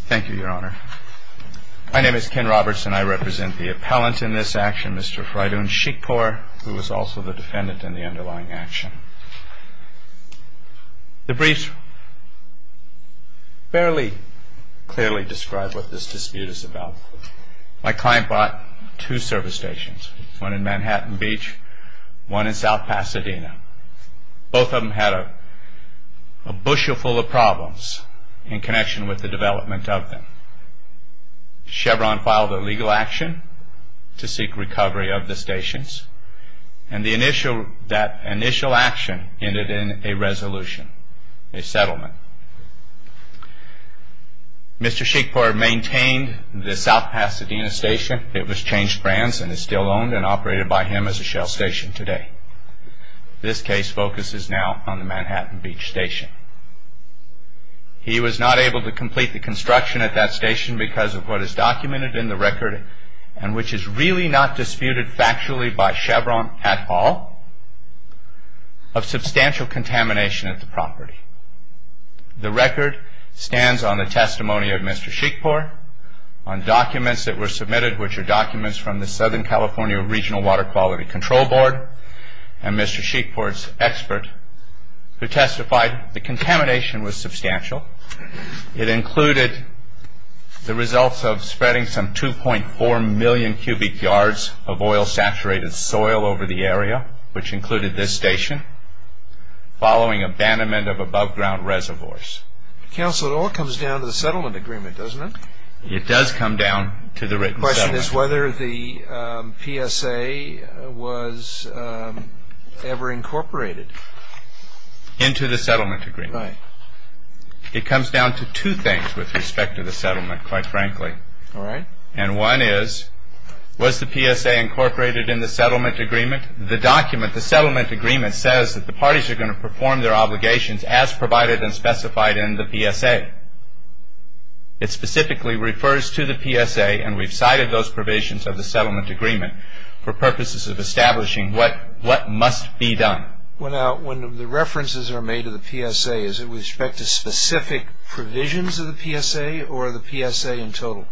Thank you, Your Honor. My name is Ken Roberts and I represent the appellant in this action, Mr. Frydoun Sheikhpour, who is also the defendant in the underlying action. The briefs barely clearly describe what this dispute is about. My client bought two service stations, one in Manhattan Beach, one in South Pasadena. Both of them had a bushel full of problems in connection with the development of them. Chevron filed a legal action to seek recovery of the stations and that initial action ended in a resolution, a settlement. Mr. Sheikhpour maintained the South Pasadena station. It was changed brands and is still owned and operated by him as a shell station today. This case focuses now on the Manhattan Beach station. He was not able to complete the construction at that station because of what is documented in the record, and which is really not disputed factually by Chevron at all, of substantial contamination at the property. The record stands on the testimony of Mr. Sheikhpour, on documents that were submitted, which are documents from the Southern California Regional Water Quality Control Board, and Mr. Sheikhpour's expert who testified the contamination was substantial. It included the results of spreading some 2.4 million cubic yards of oil-saturated soil over the area, which included this station, following abandonment of above-ground reservoirs. Counsel, it all comes down to the settlement agreement, doesn't it? It does come down to the written settlement agreement. The question is whether the PSA was ever incorporated. Into the settlement agreement. Right. It comes down to two things with respect to the settlement, quite frankly. All right. And one is, was the PSA incorporated in the settlement agreement? The document, the settlement agreement, says that the parties are going to perform their obligations as provided and specified in the PSA. It specifically refers to the PSA, and we've cited those provisions of the settlement agreement for purposes of establishing what must be done. Well, now, when the references are made to the PSA, is it with respect to specific provisions of the PSA, or the PSA in total?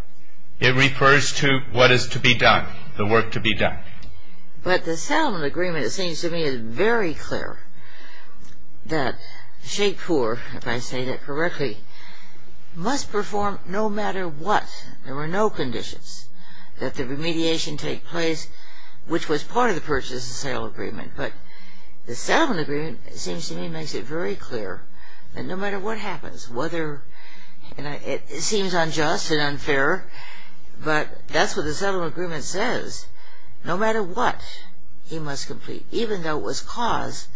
It refers to what is to be done, the work to be done. But the settlement agreement, it seems to me, is very clear that Sheikhpour, if I say that correctly, must perform no matter what. There were no conditions that the remediation take place, which was part of the purchase and sale agreement. But the settlement agreement, it seems to me, makes it very clear that no matter what happens, whether, and it seems unjust and unfair, but that's what the settlement agreement says. No matter what he must complete, even though it was caused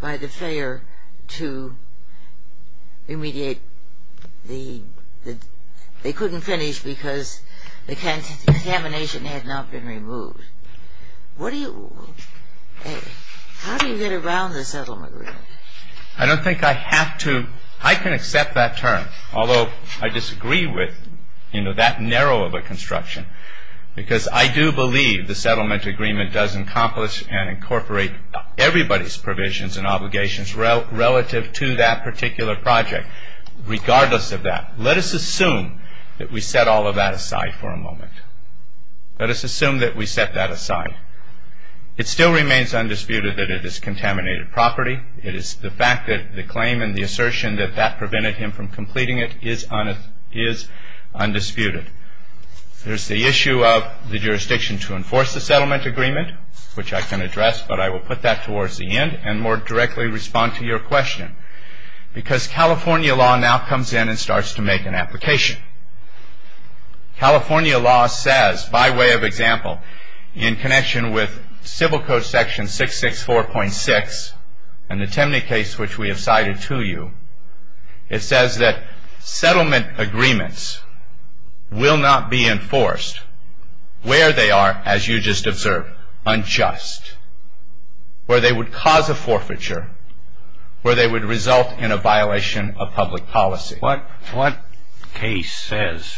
by the failure to remediate the, they couldn't finish because the contamination had not been removed. What do you, how do you get around the settlement agreement? I don't think I have to, I can accept that term, although I disagree with, you know, that narrow of a construction. Because I do believe the settlement agreement does accomplish and incorporate everybody's provisions and obligations relative to that particular project, regardless of that. Let us assume that we set all of that aside for a moment. Let us assume that we set that aside. It still remains undisputed that it is contaminated property. It is the fact that the claim and the assertion that that prevented him from completing it is undisputed. There's the issue of the jurisdiction to enforce the settlement agreement, which I can address, but I will put that towards the end and more directly respond to your question. Because California law now comes in and starts to make an application. California law says, by way of example, in connection with Civil Code section 664.6 and the Temney case which we have cited to you, it says that settlement agreements will not be enforced where they are, as you just observed, unjust. Where they would cause a forfeiture, where they would result in a violation of public policy. What case says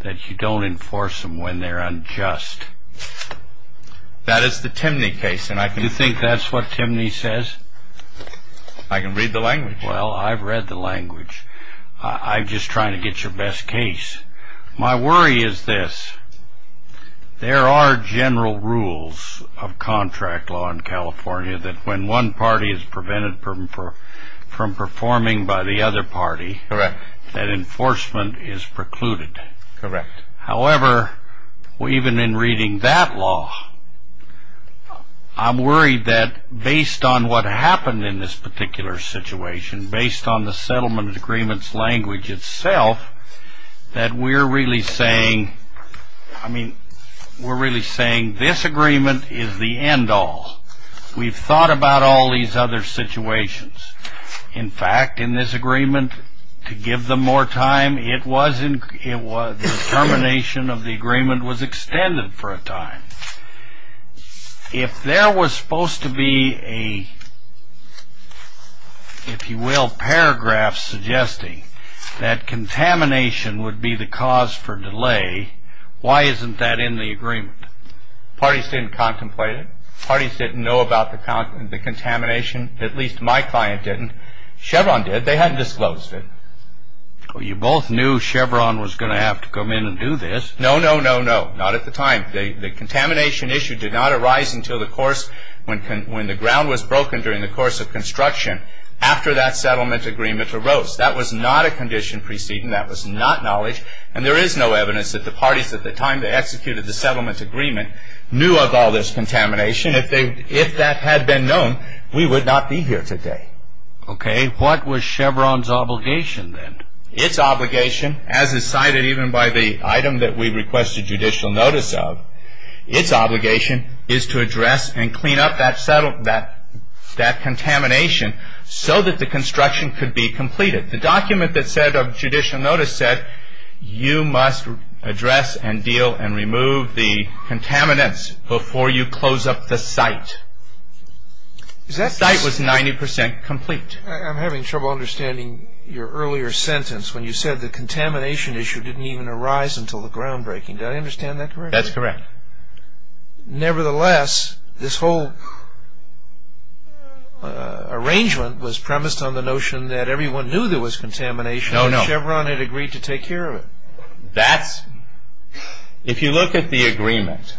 that you don't enforce them when they're unjust? That is the Temney case. Do you think that's what Temney says? I can read the language. Well, I've read the language. I'm just trying to get your best case. My worry is this. There are general rules of contract law in California that when one party is prevented from performing by the other party, that enforcement is precluded. Correct. However, even in reading that law, I'm worried that based on what happened in this particular situation, based on the settlement agreements language itself, that we're really saying, I mean, we're really saying this agreement is the end all. We've thought about all these other situations. In fact, in this agreement, to give them more time, the termination of the agreement was extended for a time. If there was supposed to be a, if you will, paragraph suggesting that contamination would be the cause for delay, why isn't that in the agreement? Parties didn't contemplate it. At least my client didn't. Chevron did. They hadn't disclosed it. Well, you both knew Chevron was going to have to come in and do this. No, no, no, no. Not at the time. The contamination issue did not arise until the course when the ground was broken during the course of construction after that settlement agreement arose. That was not a condition preceding. That was not knowledge. And there is no evidence that the parties at the time they executed the settlement agreement knew of all this contamination. If that had been known, we would not be here today. Okay. What was Chevron's obligation then? Its obligation, as is cited even by the item that we requested judicial notice of, its obligation is to address and clean up that contamination so that the construction could be completed. The document that said of judicial notice said you must address and deal and remove the contaminants before you close up the site. The site was 90% complete. I'm having trouble understanding your earlier sentence when you said the contamination issue didn't even arise until the ground breaking. Do I understand that correctly? That's correct. Nevertheless, this whole arrangement was premised on the notion that everyone knew there was contamination. No, no. Chevron had agreed to take care of it. That's, if you look at the agreement,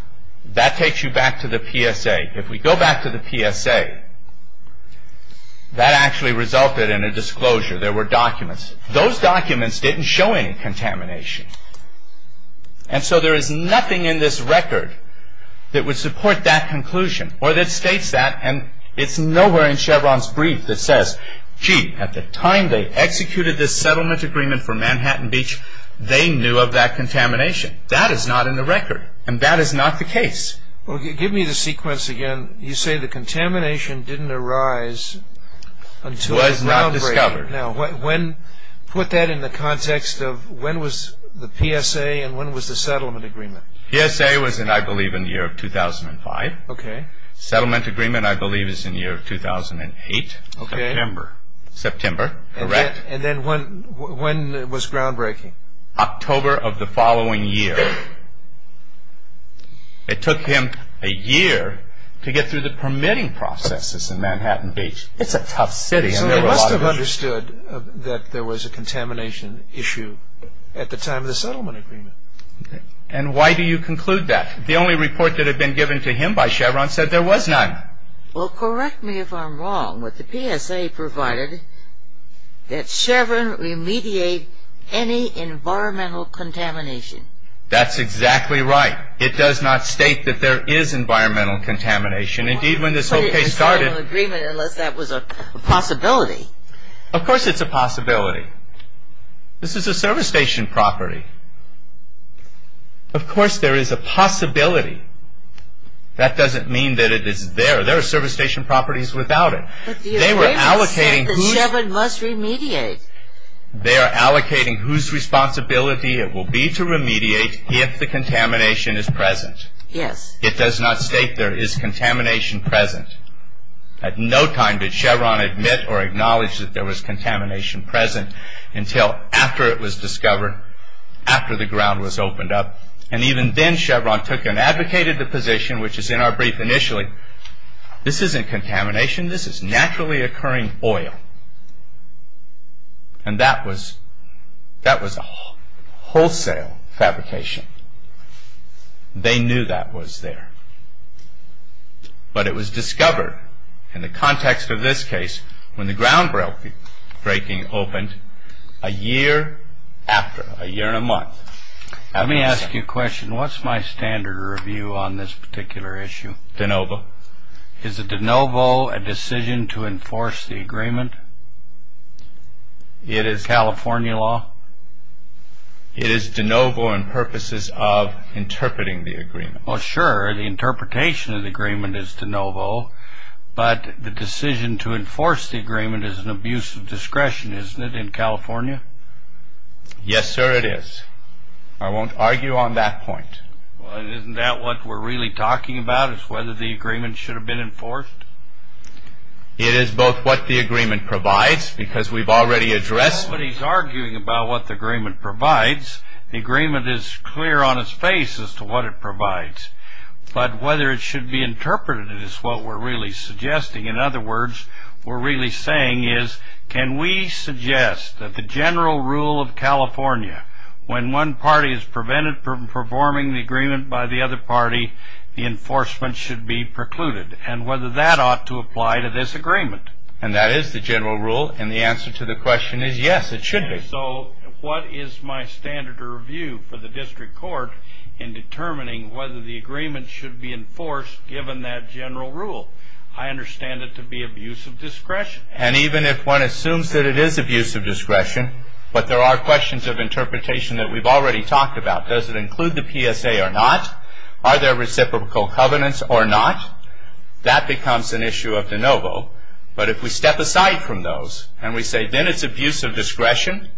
that takes you back to the PSA. If we go back to the PSA, that actually resulted in a disclosure. There were documents. Those documents didn't show any contamination. And so there is nothing in this record that would support that conclusion or that states that. And it's nowhere in Chevron's brief that says, gee, at the time they executed this settlement agreement for Manhattan Beach, they knew of that contamination. That is not in the record, and that is not the case. Well, give me the sequence again. You say the contamination didn't arise until the ground breaking. Was not discovered. Now, put that in the context of when was the PSA and when was the settlement agreement? PSA was, I believe, in the year of 2005. Okay. Settlement agreement, I believe, is in the year of 2008. September. September. Correct. And then when was ground breaking? October of the following year. It took him a year to get through the permitting processes in Manhattan Beach. It's a tough city. So they must have understood that there was a contamination issue at the time of the settlement agreement. And why do you conclude that? The only report that had been given to him by Chevron said there was none. Well, correct me if I'm wrong, but the PSA provided that Chevron remediate any environmental contamination. That's exactly right. It does not state that there is environmental contamination. Unless that was a possibility. Of course it's a possibility. This is a service station property. Of course there is a possibility. That doesn't mean that it is there. There are service station properties without it. But the agreement said that Chevron must remediate. They are allocating whose responsibility it will be to remediate if the contamination is present. Yes. It does not state there is contamination present. At no time did Chevron admit or acknowledge that there was contamination present until after it was discovered, after the ground was opened up. And even then Chevron took and advocated the position, which is in our brief initially. This isn't contamination. This is naturally occurring oil. And that was wholesale fabrication. They knew that was there. But it was discovered, in the context of this case, when the ground breaking opened, a year after, a year and a month. Let me ask you a question. What's my standard review on this particular issue? De novo. Is a de novo a decision to enforce the agreement? It is California law. It is de novo in purposes of interpreting the agreement. Well, sure. The interpretation of the agreement is de novo. But the decision to enforce the agreement is an abuse of discretion, isn't it, in California? Yes, sir, it is. I won't argue on that point. Well, isn't that what we're really talking about, is whether the agreement should have been enforced? It is both what the agreement provides, because we've already addressed it. Nobody's arguing about what the agreement provides. The agreement is clear on its face as to what it provides. But whether it should be interpreted is what we're really suggesting. In other words, what we're really saying is, can we suggest that the general rule of California, when one party is prevented from performing the agreement by the other party, the enforcement should be precluded, and whether that ought to apply to this agreement? And that is the general rule. And the answer to the question is yes, it should be. So what is my standard of review for the district court in determining whether the agreement should be enforced, given that general rule? I understand it to be abuse of discretion. And even if one assumes that it is abuse of discretion, but there are questions of interpretation that we've already talked about. Does it include the PSA or not? That becomes an issue of de novo. But if we step aside from those and we say then it's abuse of discretion,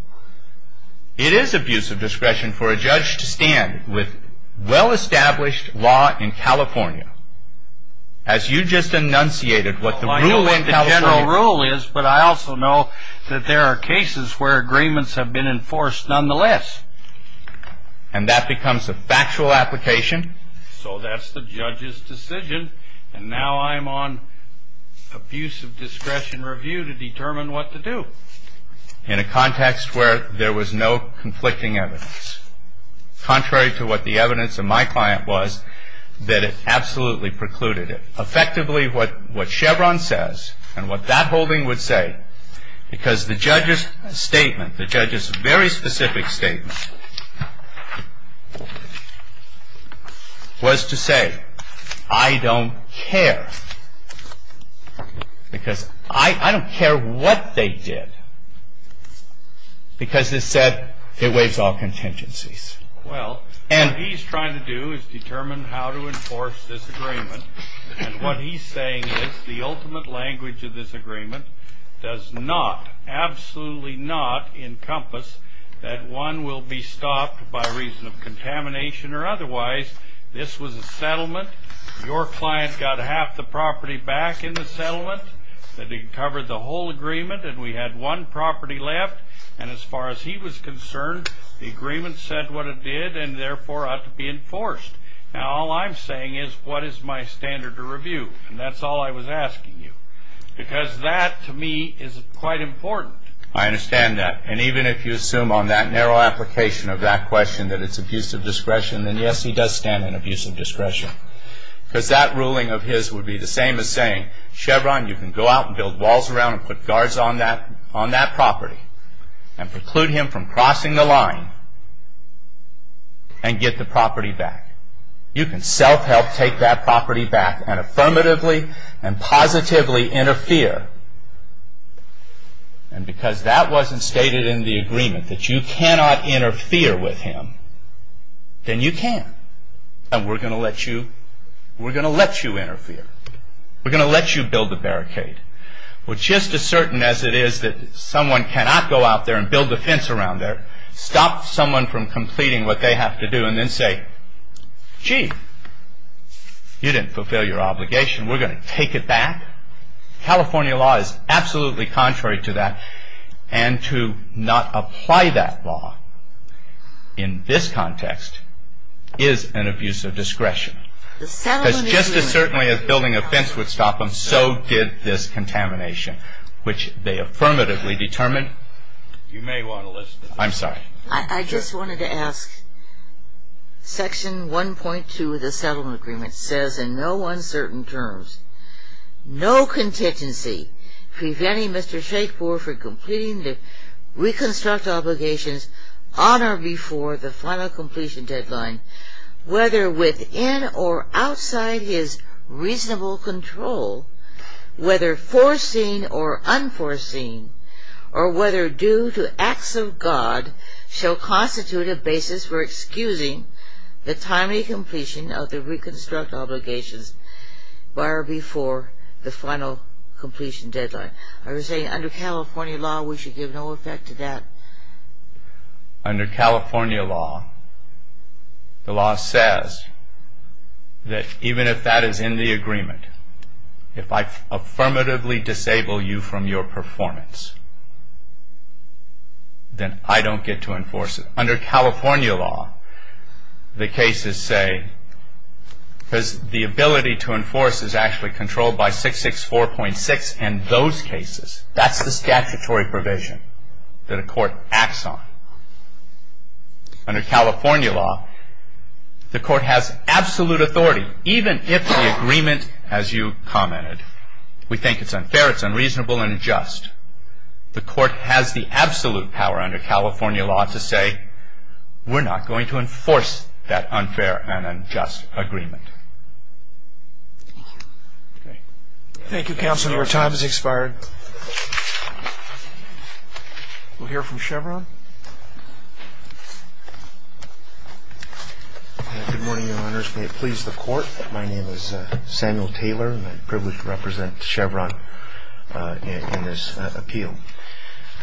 it is abuse of discretion for a judge to stand with well-established law in California. As you just enunciated, what the rule in California... I know what the general rule is, but I also know that there are cases where agreements have been enforced nonetheless. And that becomes a factual application. So that's the judge's decision. And now I'm on abuse of discretion review to determine what to do. In a context where there was no conflicting evidence. Contrary to what the evidence of my client was, that it absolutely precluded it. Effectively, what Chevron says, and what that holding would say, because the judge's statement, the judge's very specific statement, was to say, I don't care. Because I don't care what they did. Because this said, it waives all contingencies. Well, what he's trying to do is determine how to enforce this agreement. And what he's saying is the ultimate language of this agreement does not, absolutely not, encompass that one will be stopped by reason of contamination or otherwise. This was a settlement. Your client got half the property back in the settlement. It covered the whole agreement, and we had one property left. And as far as he was concerned, the agreement said what it did, and therefore ought to be enforced. Now, all I'm saying is, what is my standard of review? And that's all I was asking you. Because that, to me, is quite important. I understand that. And even if you assume on that narrow application of that question that it's abusive discretion, then yes, he does stand on abusive discretion. Because that ruling of his would be the same as saying, Chevron, you can go out and build walls around and put guards on that property and preclude him from crossing the line and get the property back. You can self-help take that property back and affirmatively and positively interfere. And because that wasn't stated in the agreement, that you cannot interfere with him, then you can. And we're going to let you interfere. We're going to let you build the barricade. We're just as certain as it is that someone cannot go out there and build a fence around there, stop someone from completing what they have to do, and then say, gee, you didn't fulfill your obligation. We're going to take it back. California law is absolutely contrary to that. And to not apply that law in this context is an abuse of discretion. Because just as certainly as building a fence would stop him, so did this contamination, which they affirmatively determined. You may want to listen. I'm sorry. I just wanted to ask. Section 1.2 of the settlement agreement says in no uncertain terms, no contingency preventing Mr. Shakefore from completing the reconstructed obligations on or before the final completion deadline, whether within or outside his reasonable control, whether foreseen or unforeseen, or whether due to acts of God, shall constitute a basis for excusing the timely completion of the reconstructed obligations by or before the final completion deadline. Are you saying under California law we should give no effect to that? Under California law, the law says that even if that is in the agreement, if I affirmatively disable you from your performance, then I don't get to enforce it. Under California law, the cases say, because the ability to enforce is actually controlled by 664.6 and those cases, that's the statutory provision that a court acts on. Under California law, the court has absolute authority, even if the agreement, as you commented, we think it's unfair, it's unreasonable and unjust. The court has the absolute power under California law to say, we're not going to enforce that unfair and unjust agreement. Thank you, Counselor. Your time has expired. We'll hear from Chevron. Good morning, Your Honors. May it please the Court. My name is Samuel Taylor and I'm privileged to represent Chevron in this appeal.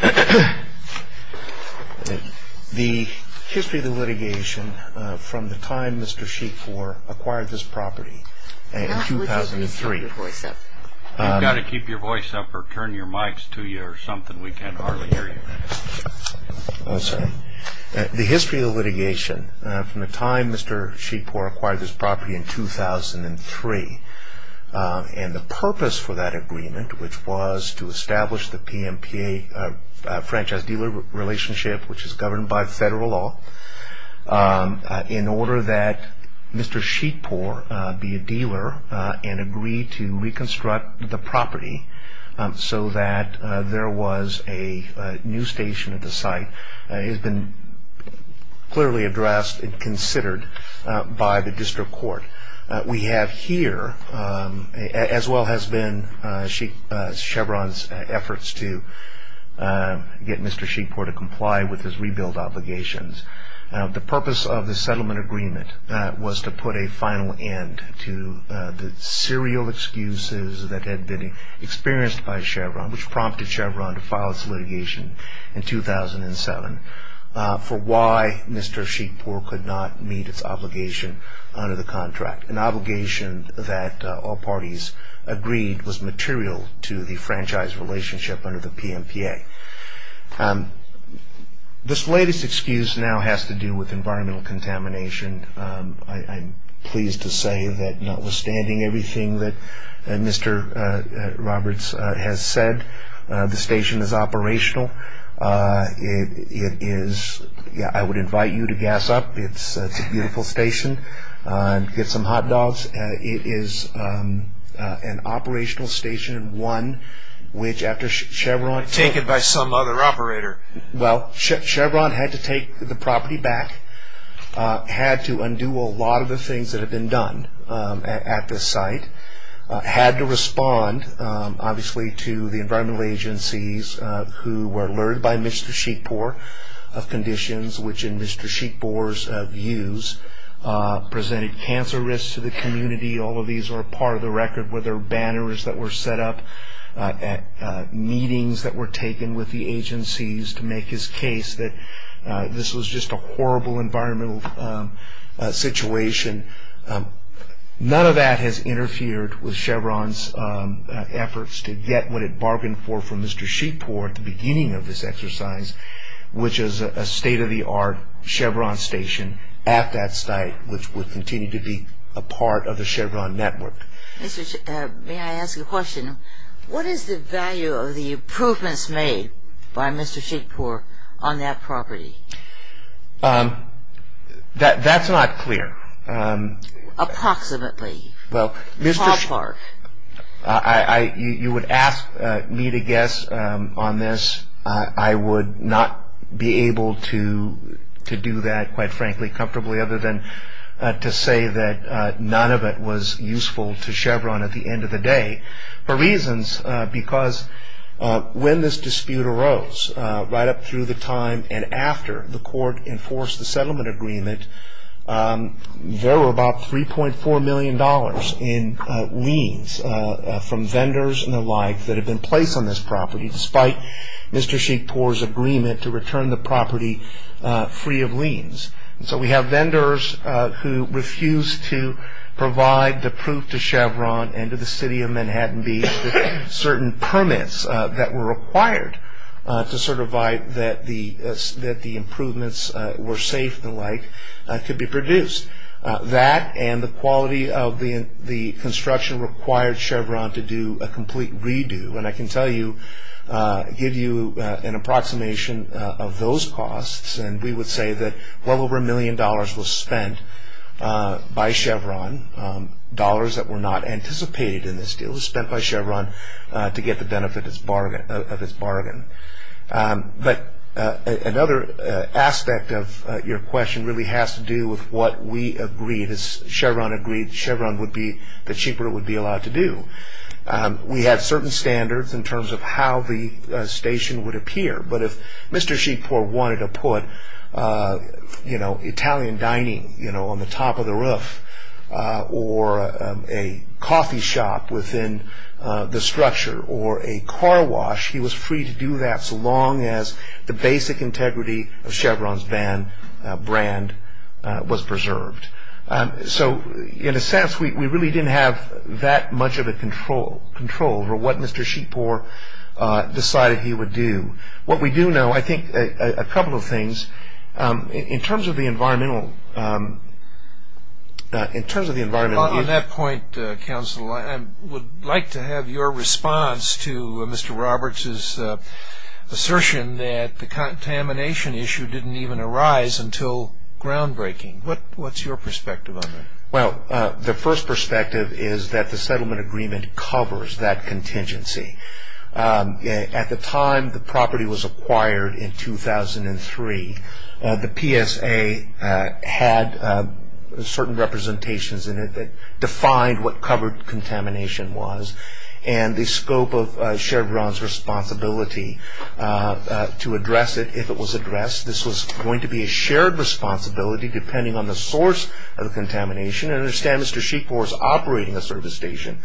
The history of the litigation from the time Mr. Sheepoor acquired this property in 2003. You've got to keep your voice up or turn your mics to you or something. We can hardly hear you. I'm sorry. The history of the litigation from the time Mr. Sheepoor acquired this property in 2003 and the purpose for that agreement, which was to establish the PMPA, Franchise Dealer Relationship, which is governed by federal law, in order that Mr. Sheepoor be a dealer and agree to reconstruct the property so that there was a new station at the site, has been clearly addressed and considered by the district court. We have here, as well has been, Chevron's efforts to get Mr. Sheepoor to comply with his rebuild obligations. The purpose of the settlement agreement was to put a final end to the serial excuses that had been experienced by Chevron, which prompted Chevron to file its litigation in 2007 for why Mr. Sheepoor could not meet its obligation under the contract, an obligation that all parties agreed was material to the franchise relationship under the PMPA. This latest excuse now has to do with environmental contamination. I'm pleased to say that notwithstanding everything that Mr. Roberts has said, the station is operational. I would invite you to gas up. It's a beautiful station. Get some hot dogs. It is an operational station, one which after Chevron Taken by some other operator. Well, Chevron had to take the property back, had to undo a lot of the things that had been done at this site, and had to respond, obviously, to the environmental agencies who were alerted by Mr. Sheepoor of conditions which, in Mr. Sheepoor's views, presented cancer risks to the community. All of these are part of the record where there are banners that were set up, meetings that were taken with the agencies to make his case that this was just a horrible environmental situation. None of that has interfered with Chevron's efforts to get what it bargained for from Mr. Sheepoor at the beginning of this exercise, which is a state-of-the-art Chevron station at that site, which would continue to be a part of the Chevron network. Mr. Sheepoor, may I ask a question? What is the value of the improvements made by Mr. Sheepoor on that property? That's not clear. Approximately. Well, you would ask me to guess on this. I would not be able to do that, quite frankly, comfortably, other than to say that none of it was useful to Chevron at the end of the day, for reasons because when this dispute arose, right up through the time and after the court enforced the settlement agreement, there were about $3.4 million in liens from vendors and the like that had been placed on this property, despite Mr. Sheepoor's agreement to return the property free of liens. So we have vendors who refused to provide the proof to Chevron and to the city of Manhattan Beach that certain permits that were required to certify that the improvements were safe and the like could be produced. That and the quality of the construction required Chevron to do a complete redo, and I can tell you, give you an approximation of those costs, and we would say that well over a million dollars was spent by Chevron, dollars that were not anticipated in this deal, was spent by Chevron to get the benefit of its bargain. But another aspect of your question really has to do with what we agreed, Chevron agreed that Sheepoor would be allowed to do. We had certain standards in terms of how the station would appear, but if Mr. Sheepoor wanted to put Italian dining on the top of the roof, or a coffee shop within the structure, or a car wash, he was free to do that so long as the basic integrity of Chevron's van brand was preserved. So in a sense we really didn't have that much of a control over what Mr. Sheepoor decided he would do. What we do know, I think, a couple of things. In terms of the environmental... On that point, counsel, I would like to have your response to Mr. Roberts' assertion that the contamination issue didn't even arise until groundbreaking. What's your perspective on that? Well, the first perspective is that the settlement agreement covers that contingency. At the time the property was acquired in 2003, the PSA had certain representations in it that defined what covered contamination was, and the scope of Chevron's responsibility to address it if it was addressed. This was going to be a shared responsibility depending on the source of the contamination. I understand Mr. Sheepoor was operating a service station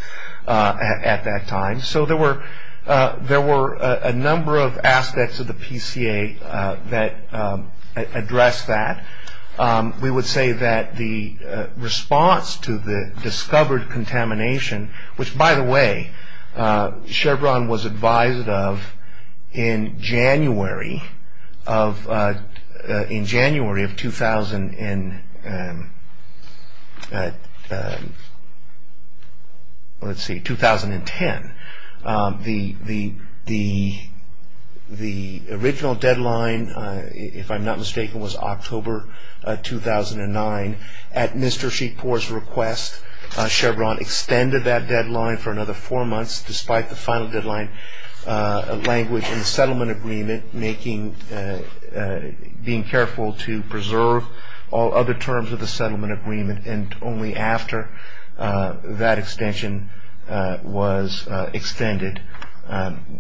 at that time, so there were a number of aspects of the PCA that addressed that. We would say that the response to the discovered contamination, which, by the way, Chevron was advised of in January of 2010. The original deadline, if I'm not mistaken, was October 2009. At Mr. Sheepoor's request, Chevron extended that deadline for another four months despite the final deadline language in the settlement agreement, being careful to preserve all other terms of the settlement agreement, and only after that extension was extended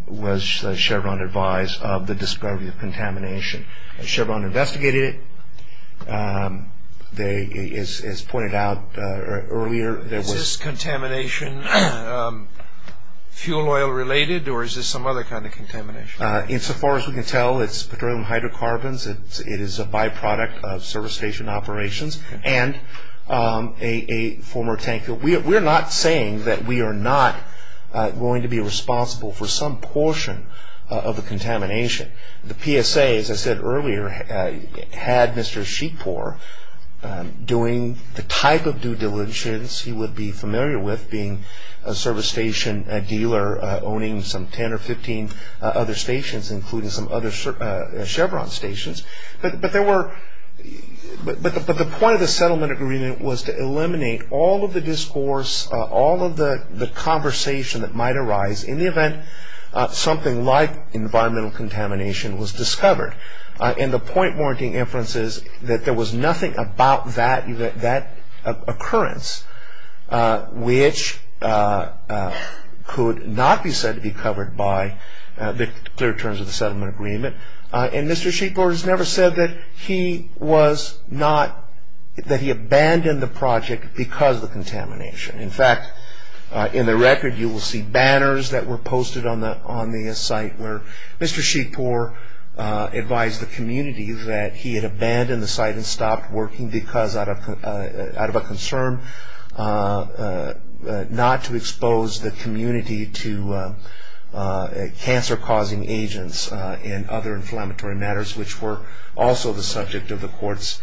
was Chevron advised of the discovery of contamination. Chevron investigated it, as pointed out earlier. Is this contamination fuel oil related, or is this some other kind of contamination? Insofar as we can tell, it's petroleum hydrocarbons, it is a byproduct of service station operations, and a former tanker. We're not saying that we are not going to be responsible for some portion of the contamination. The PSA, as I said earlier, had Mr. Sheepoor doing the type of due diligence he would be familiar with, being a service station dealer, owning some 10 or 15 other stations, including some other Chevron stations. But the point of the settlement agreement was to eliminate all of the discourse, all of the conversation that might arise in the event something like environmental contamination was discovered. And the point warranting inference is that there was nothing about that occurrence which could not be said to be covered by the clear terms of the settlement agreement. And Mr. Sheepoor has never said that he abandoned the project because of the contamination. In fact, in the record you will see banners that were posted on the site where Mr. Sheepoor advised the community that he had abandoned the site and stopped working because out of a concern not to expose the community to cancer-causing agents and other inflammatory matters which were also the subject of the courts.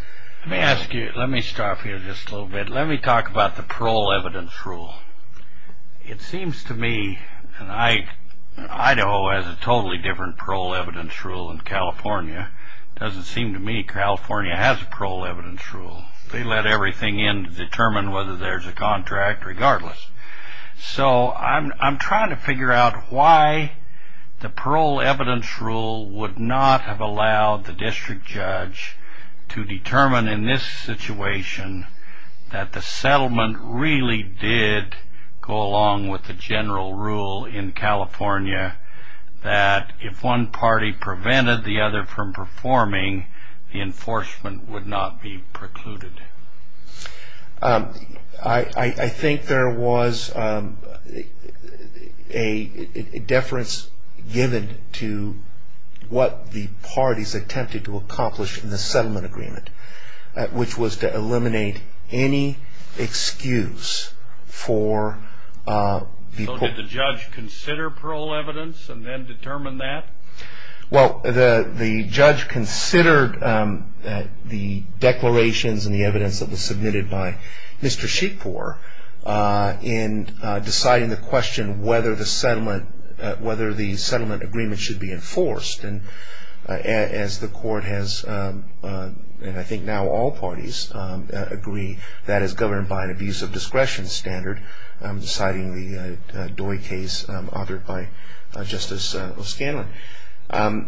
Let me stop here just a little bit. Let me talk about the parole evidence rule. It seems to me, and Idaho has a totally different parole evidence rule than California. It doesn't seem to me California has a parole evidence rule. They let everything in to determine whether there's a contract, regardless. So I'm trying to figure out why the parole evidence rule would not have allowed the district judge to determine in this situation that the settlement really did go along with the general rule in California that if one party prevented the other from performing, the enforcement would not be precluded. I think there was a deference given to what the parties attempted to accomplish in the settlement agreement, which was to eliminate any excuse for the court. So did the judge consider parole evidence and then determine that? Well, the judge considered the declarations and the evidence that was submitted by Mr. Sheepfor in deciding the question whether the settlement agreement should be enforced. As the court has, and I think now all parties agree, that is governed by an abuse of discretion standard, deciding the Doi case authored by Justice O'Scanlan. The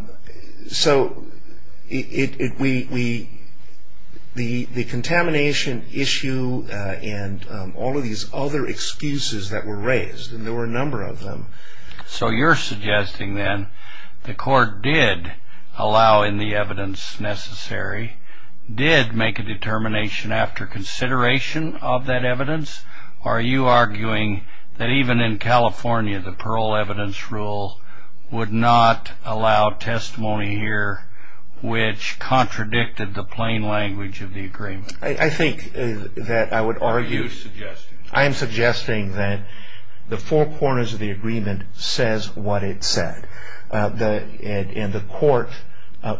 contamination issue and all of these other excuses that were raised, and there were a number of them. So you're suggesting then the court did allow in the evidence necessary, did make a determination after consideration of that evidence, or are you arguing that even in California, the parole evidence rule would not allow testimony here, which contradicted the plain language of the agreement? I think that I would argue... What are you suggesting? I am suggesting that the four corners of the agreement says what it said. And the court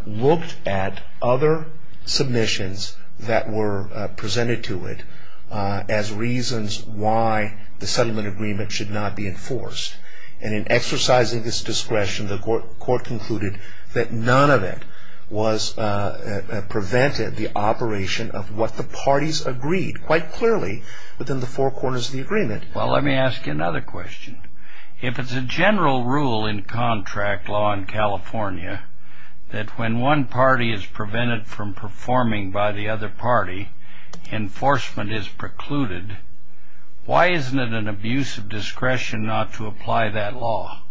looked at other submissions that were presented to it as reasons why the settlement agreement should not be enforced. And in exercising this discretion, the court concluded that none of it prevented the operation of what the parties agreed, quite clearly within the four corners of the agreement. Well, let me ask you another question. If it's a general rule in contract law in California, that when one party is prevented from performing by the other party, enforcement is precluded, why isn't it an abuse of discretion not to apply that law?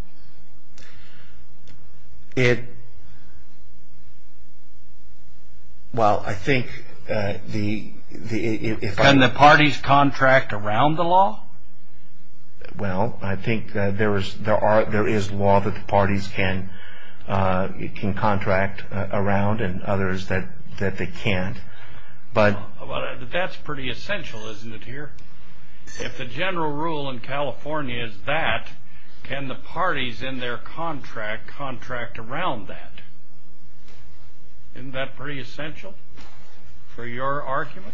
Well, I think the... Can the parties contract around the law? Well, I think there is law that the parties can contract around and others that they can't, but... That's pretty essential, isn't it, here? If the general rule in California is that, can the parties in their contract contract around that? Isn't that pretty essential for your argument?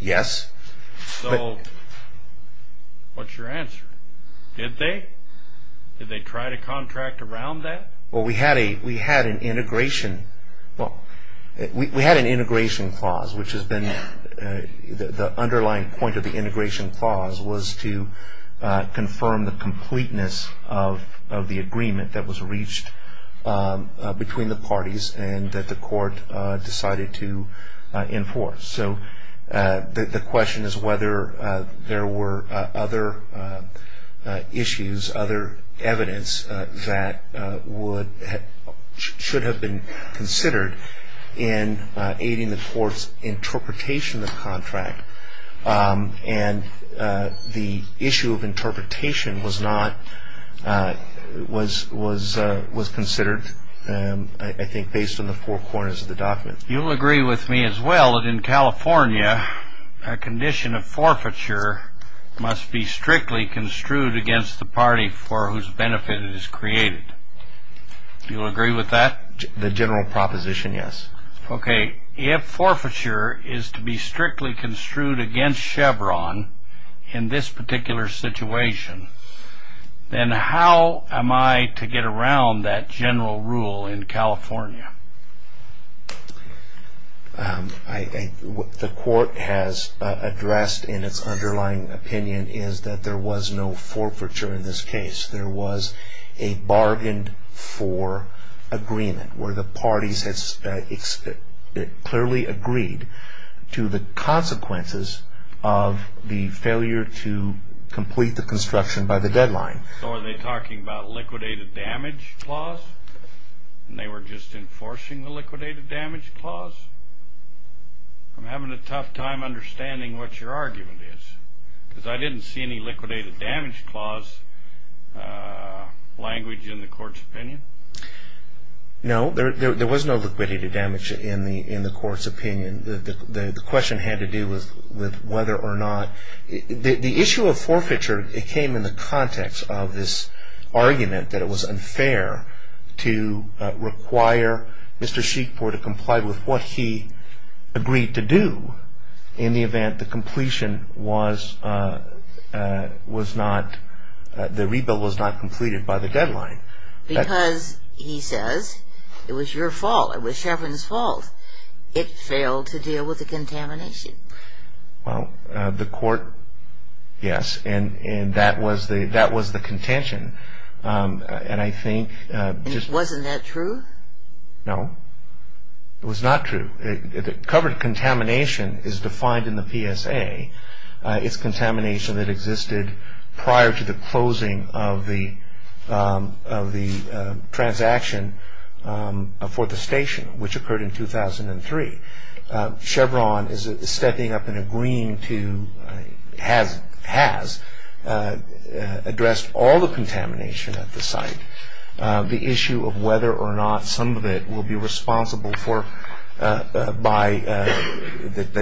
Yes. So, what's your answer? Did they? Did they try to contract around that? Well, we had an integration... Well, we had an integration clause, which has been... The underlying point of the integration clause was to confirm the completeness of the agreement that was reached between the parties and that the court decided to enforce. So, the question is whether there were other issues, other evidence that should have been considered in aiding the court's interpretation of the contract. And the issue of interpretation was not... was considered, I think, based on the four corners of the document. You'll agree with me as well that in California, a condition of forfeiture must be strictly construed against the party for whose benefit it is created. You'll agree with that? The general proposition, yes. Okay. If forfeiture is to be strictly construed against Chevron in this particular situation, then how am I to get around that general rule in California? The court has addressed in its underlying opinion is that there was no forfeiture in this case. There was a bargained for agreement where the parties clearly agreed to the consequences of the failure to complete the construction by the deadline. So, are they talking about liquidated damage clause? And they were just enforcing the liquidated damage clause? I'm having a tough time understanding what your argument is because I didn't see any liquidated damage clause language in the court's opinion. No, there was no liquidated damage in the court's opinion. The question had to do with whether or not... The issue of forfeiture, it came in the context of this argument that it was unfair to require Mr. Sheekpore to comply with what he agreed to do in the event the completion was not... the rebuild was not completed by the deadline. Because, he says, it was your fault. It was Chevron's fault. It failed to deal with the contamination. Well, the court... Yes, and that was the contention. And I think... And wasn't that true? No, it was not true. Covered contamination is defined in the PSA. It's contamination that existed prior to the closing of the transaction for the station, which occurred in 2003. Chevron is stepping up and agreeing to... has addressed all the contamination at the site. The issue of whether or not some of it will be responsible for... that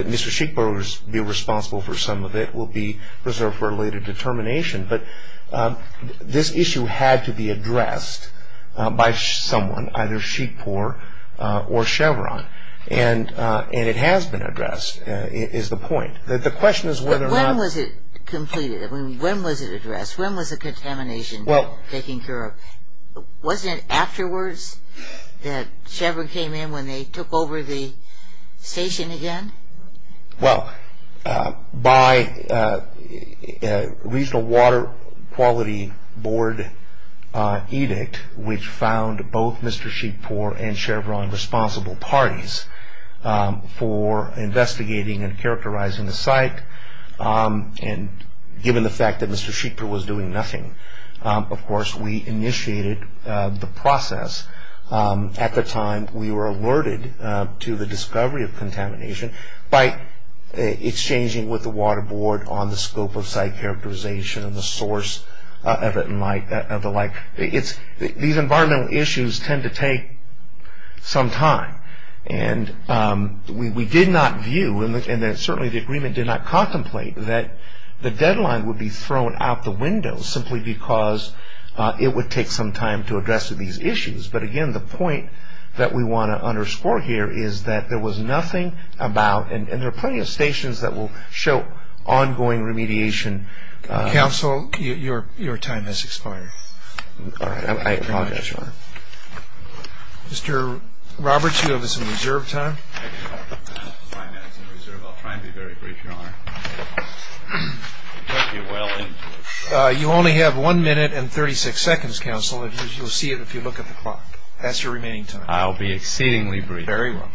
Mr. Sheekpore will be responsible for some of it will be reserved for a later determination. But this issue had to be addressed by someone, either Sheekpore or Chevron. And it has been addressed, is the point. The question is whether or not... When was it completed? I mean, when was it addressed? When was the contamination taken care of? Wasn't it afterwards that Chevron came in when they took over the station again? Well, by a Regional Water Quality Board edict, which found both Mr. Sheekpore and Chevron responsible parties for investigating and characterizing the site. And given the fact that Mr. Sheekpore was doing nothing, of course we initiated the process at the time we were alerted to the discovery of contamination by exchanging with the Water Board on the scope of site characterization and the source of it and the like. These environmental issues tend to take some time. And we did not view, and certainly the agreement did not contemplate, that the deadline would be thrown out the window simply because it would take some time to address these issues. But again, the point that we want to underscore here is that there was nothing about... And there are plenty of stations that will show ongoing remediation... Well, your time has expired. All right. I apologize, Your Honor. Mr. Roberts, you have some reserved time. Five minutes in reserve. I'll try and be very brief, Your Honor. You only have one minute and 36 seconds, Counsel, and you'll see it if you look at the clock. That's your remaining time. I'll be exceedingly brief. Very well.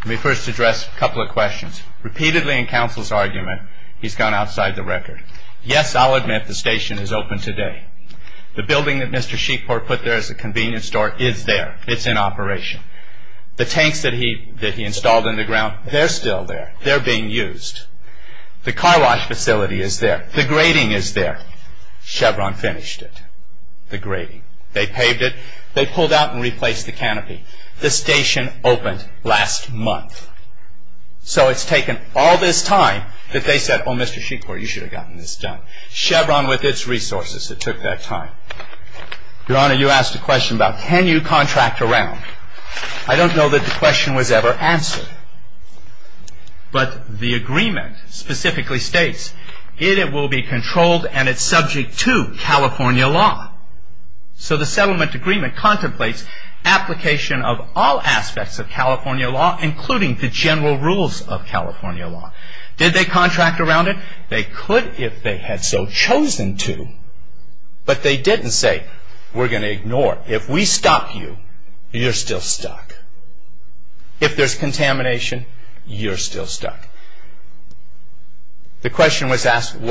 Let me first address a couple of questions. Repeatedly in Counsel's argument, he's gone outside the record. Yes, I'll admit the station is open today. The building that Mr. Sheepport put there as a convenience store is there. It's in operation. The tanks that he installed in the ground, they're still there. They're being used. The car wash facility is there. The grading is there. Chevron finished it. The grading. They paved it. They pulled out and replaced the canopy. The station opened last month. So it's taken all this time that they said, Oh, Mr. Sheepport, you should have gotten this done. Chevron, with its resources, it took that time. Your Honor, you asked a question about can you contract around. I don't know that the question was ever answered. But the agreement specifically states, It will be controlled and it's subject to California law. So the settlement agreement contemplates application of all aspects of California law, including the general rules of California law. Did they contract around it? They could if they had so chosen to. But they didn't say, We're going to ignore it. If we stop you, you're still stuck. If there's contamination, you're still stuck. The question was asked, When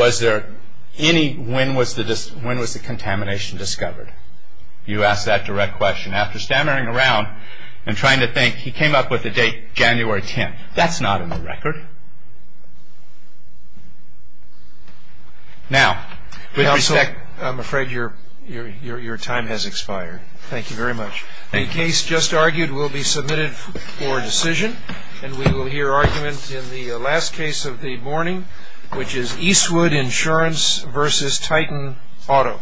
was the contamination discovered? You ask that direct question. After stammering around and trying to think, He came up with the date, January 10th. That's not on the record. Now, with respect, I'm afraid your time has expired. Thank you very much. The case just argued will be submitted for decision. And we will hear argument in the last case of the morning, which is Eastwood Insurance v. Titan Auto.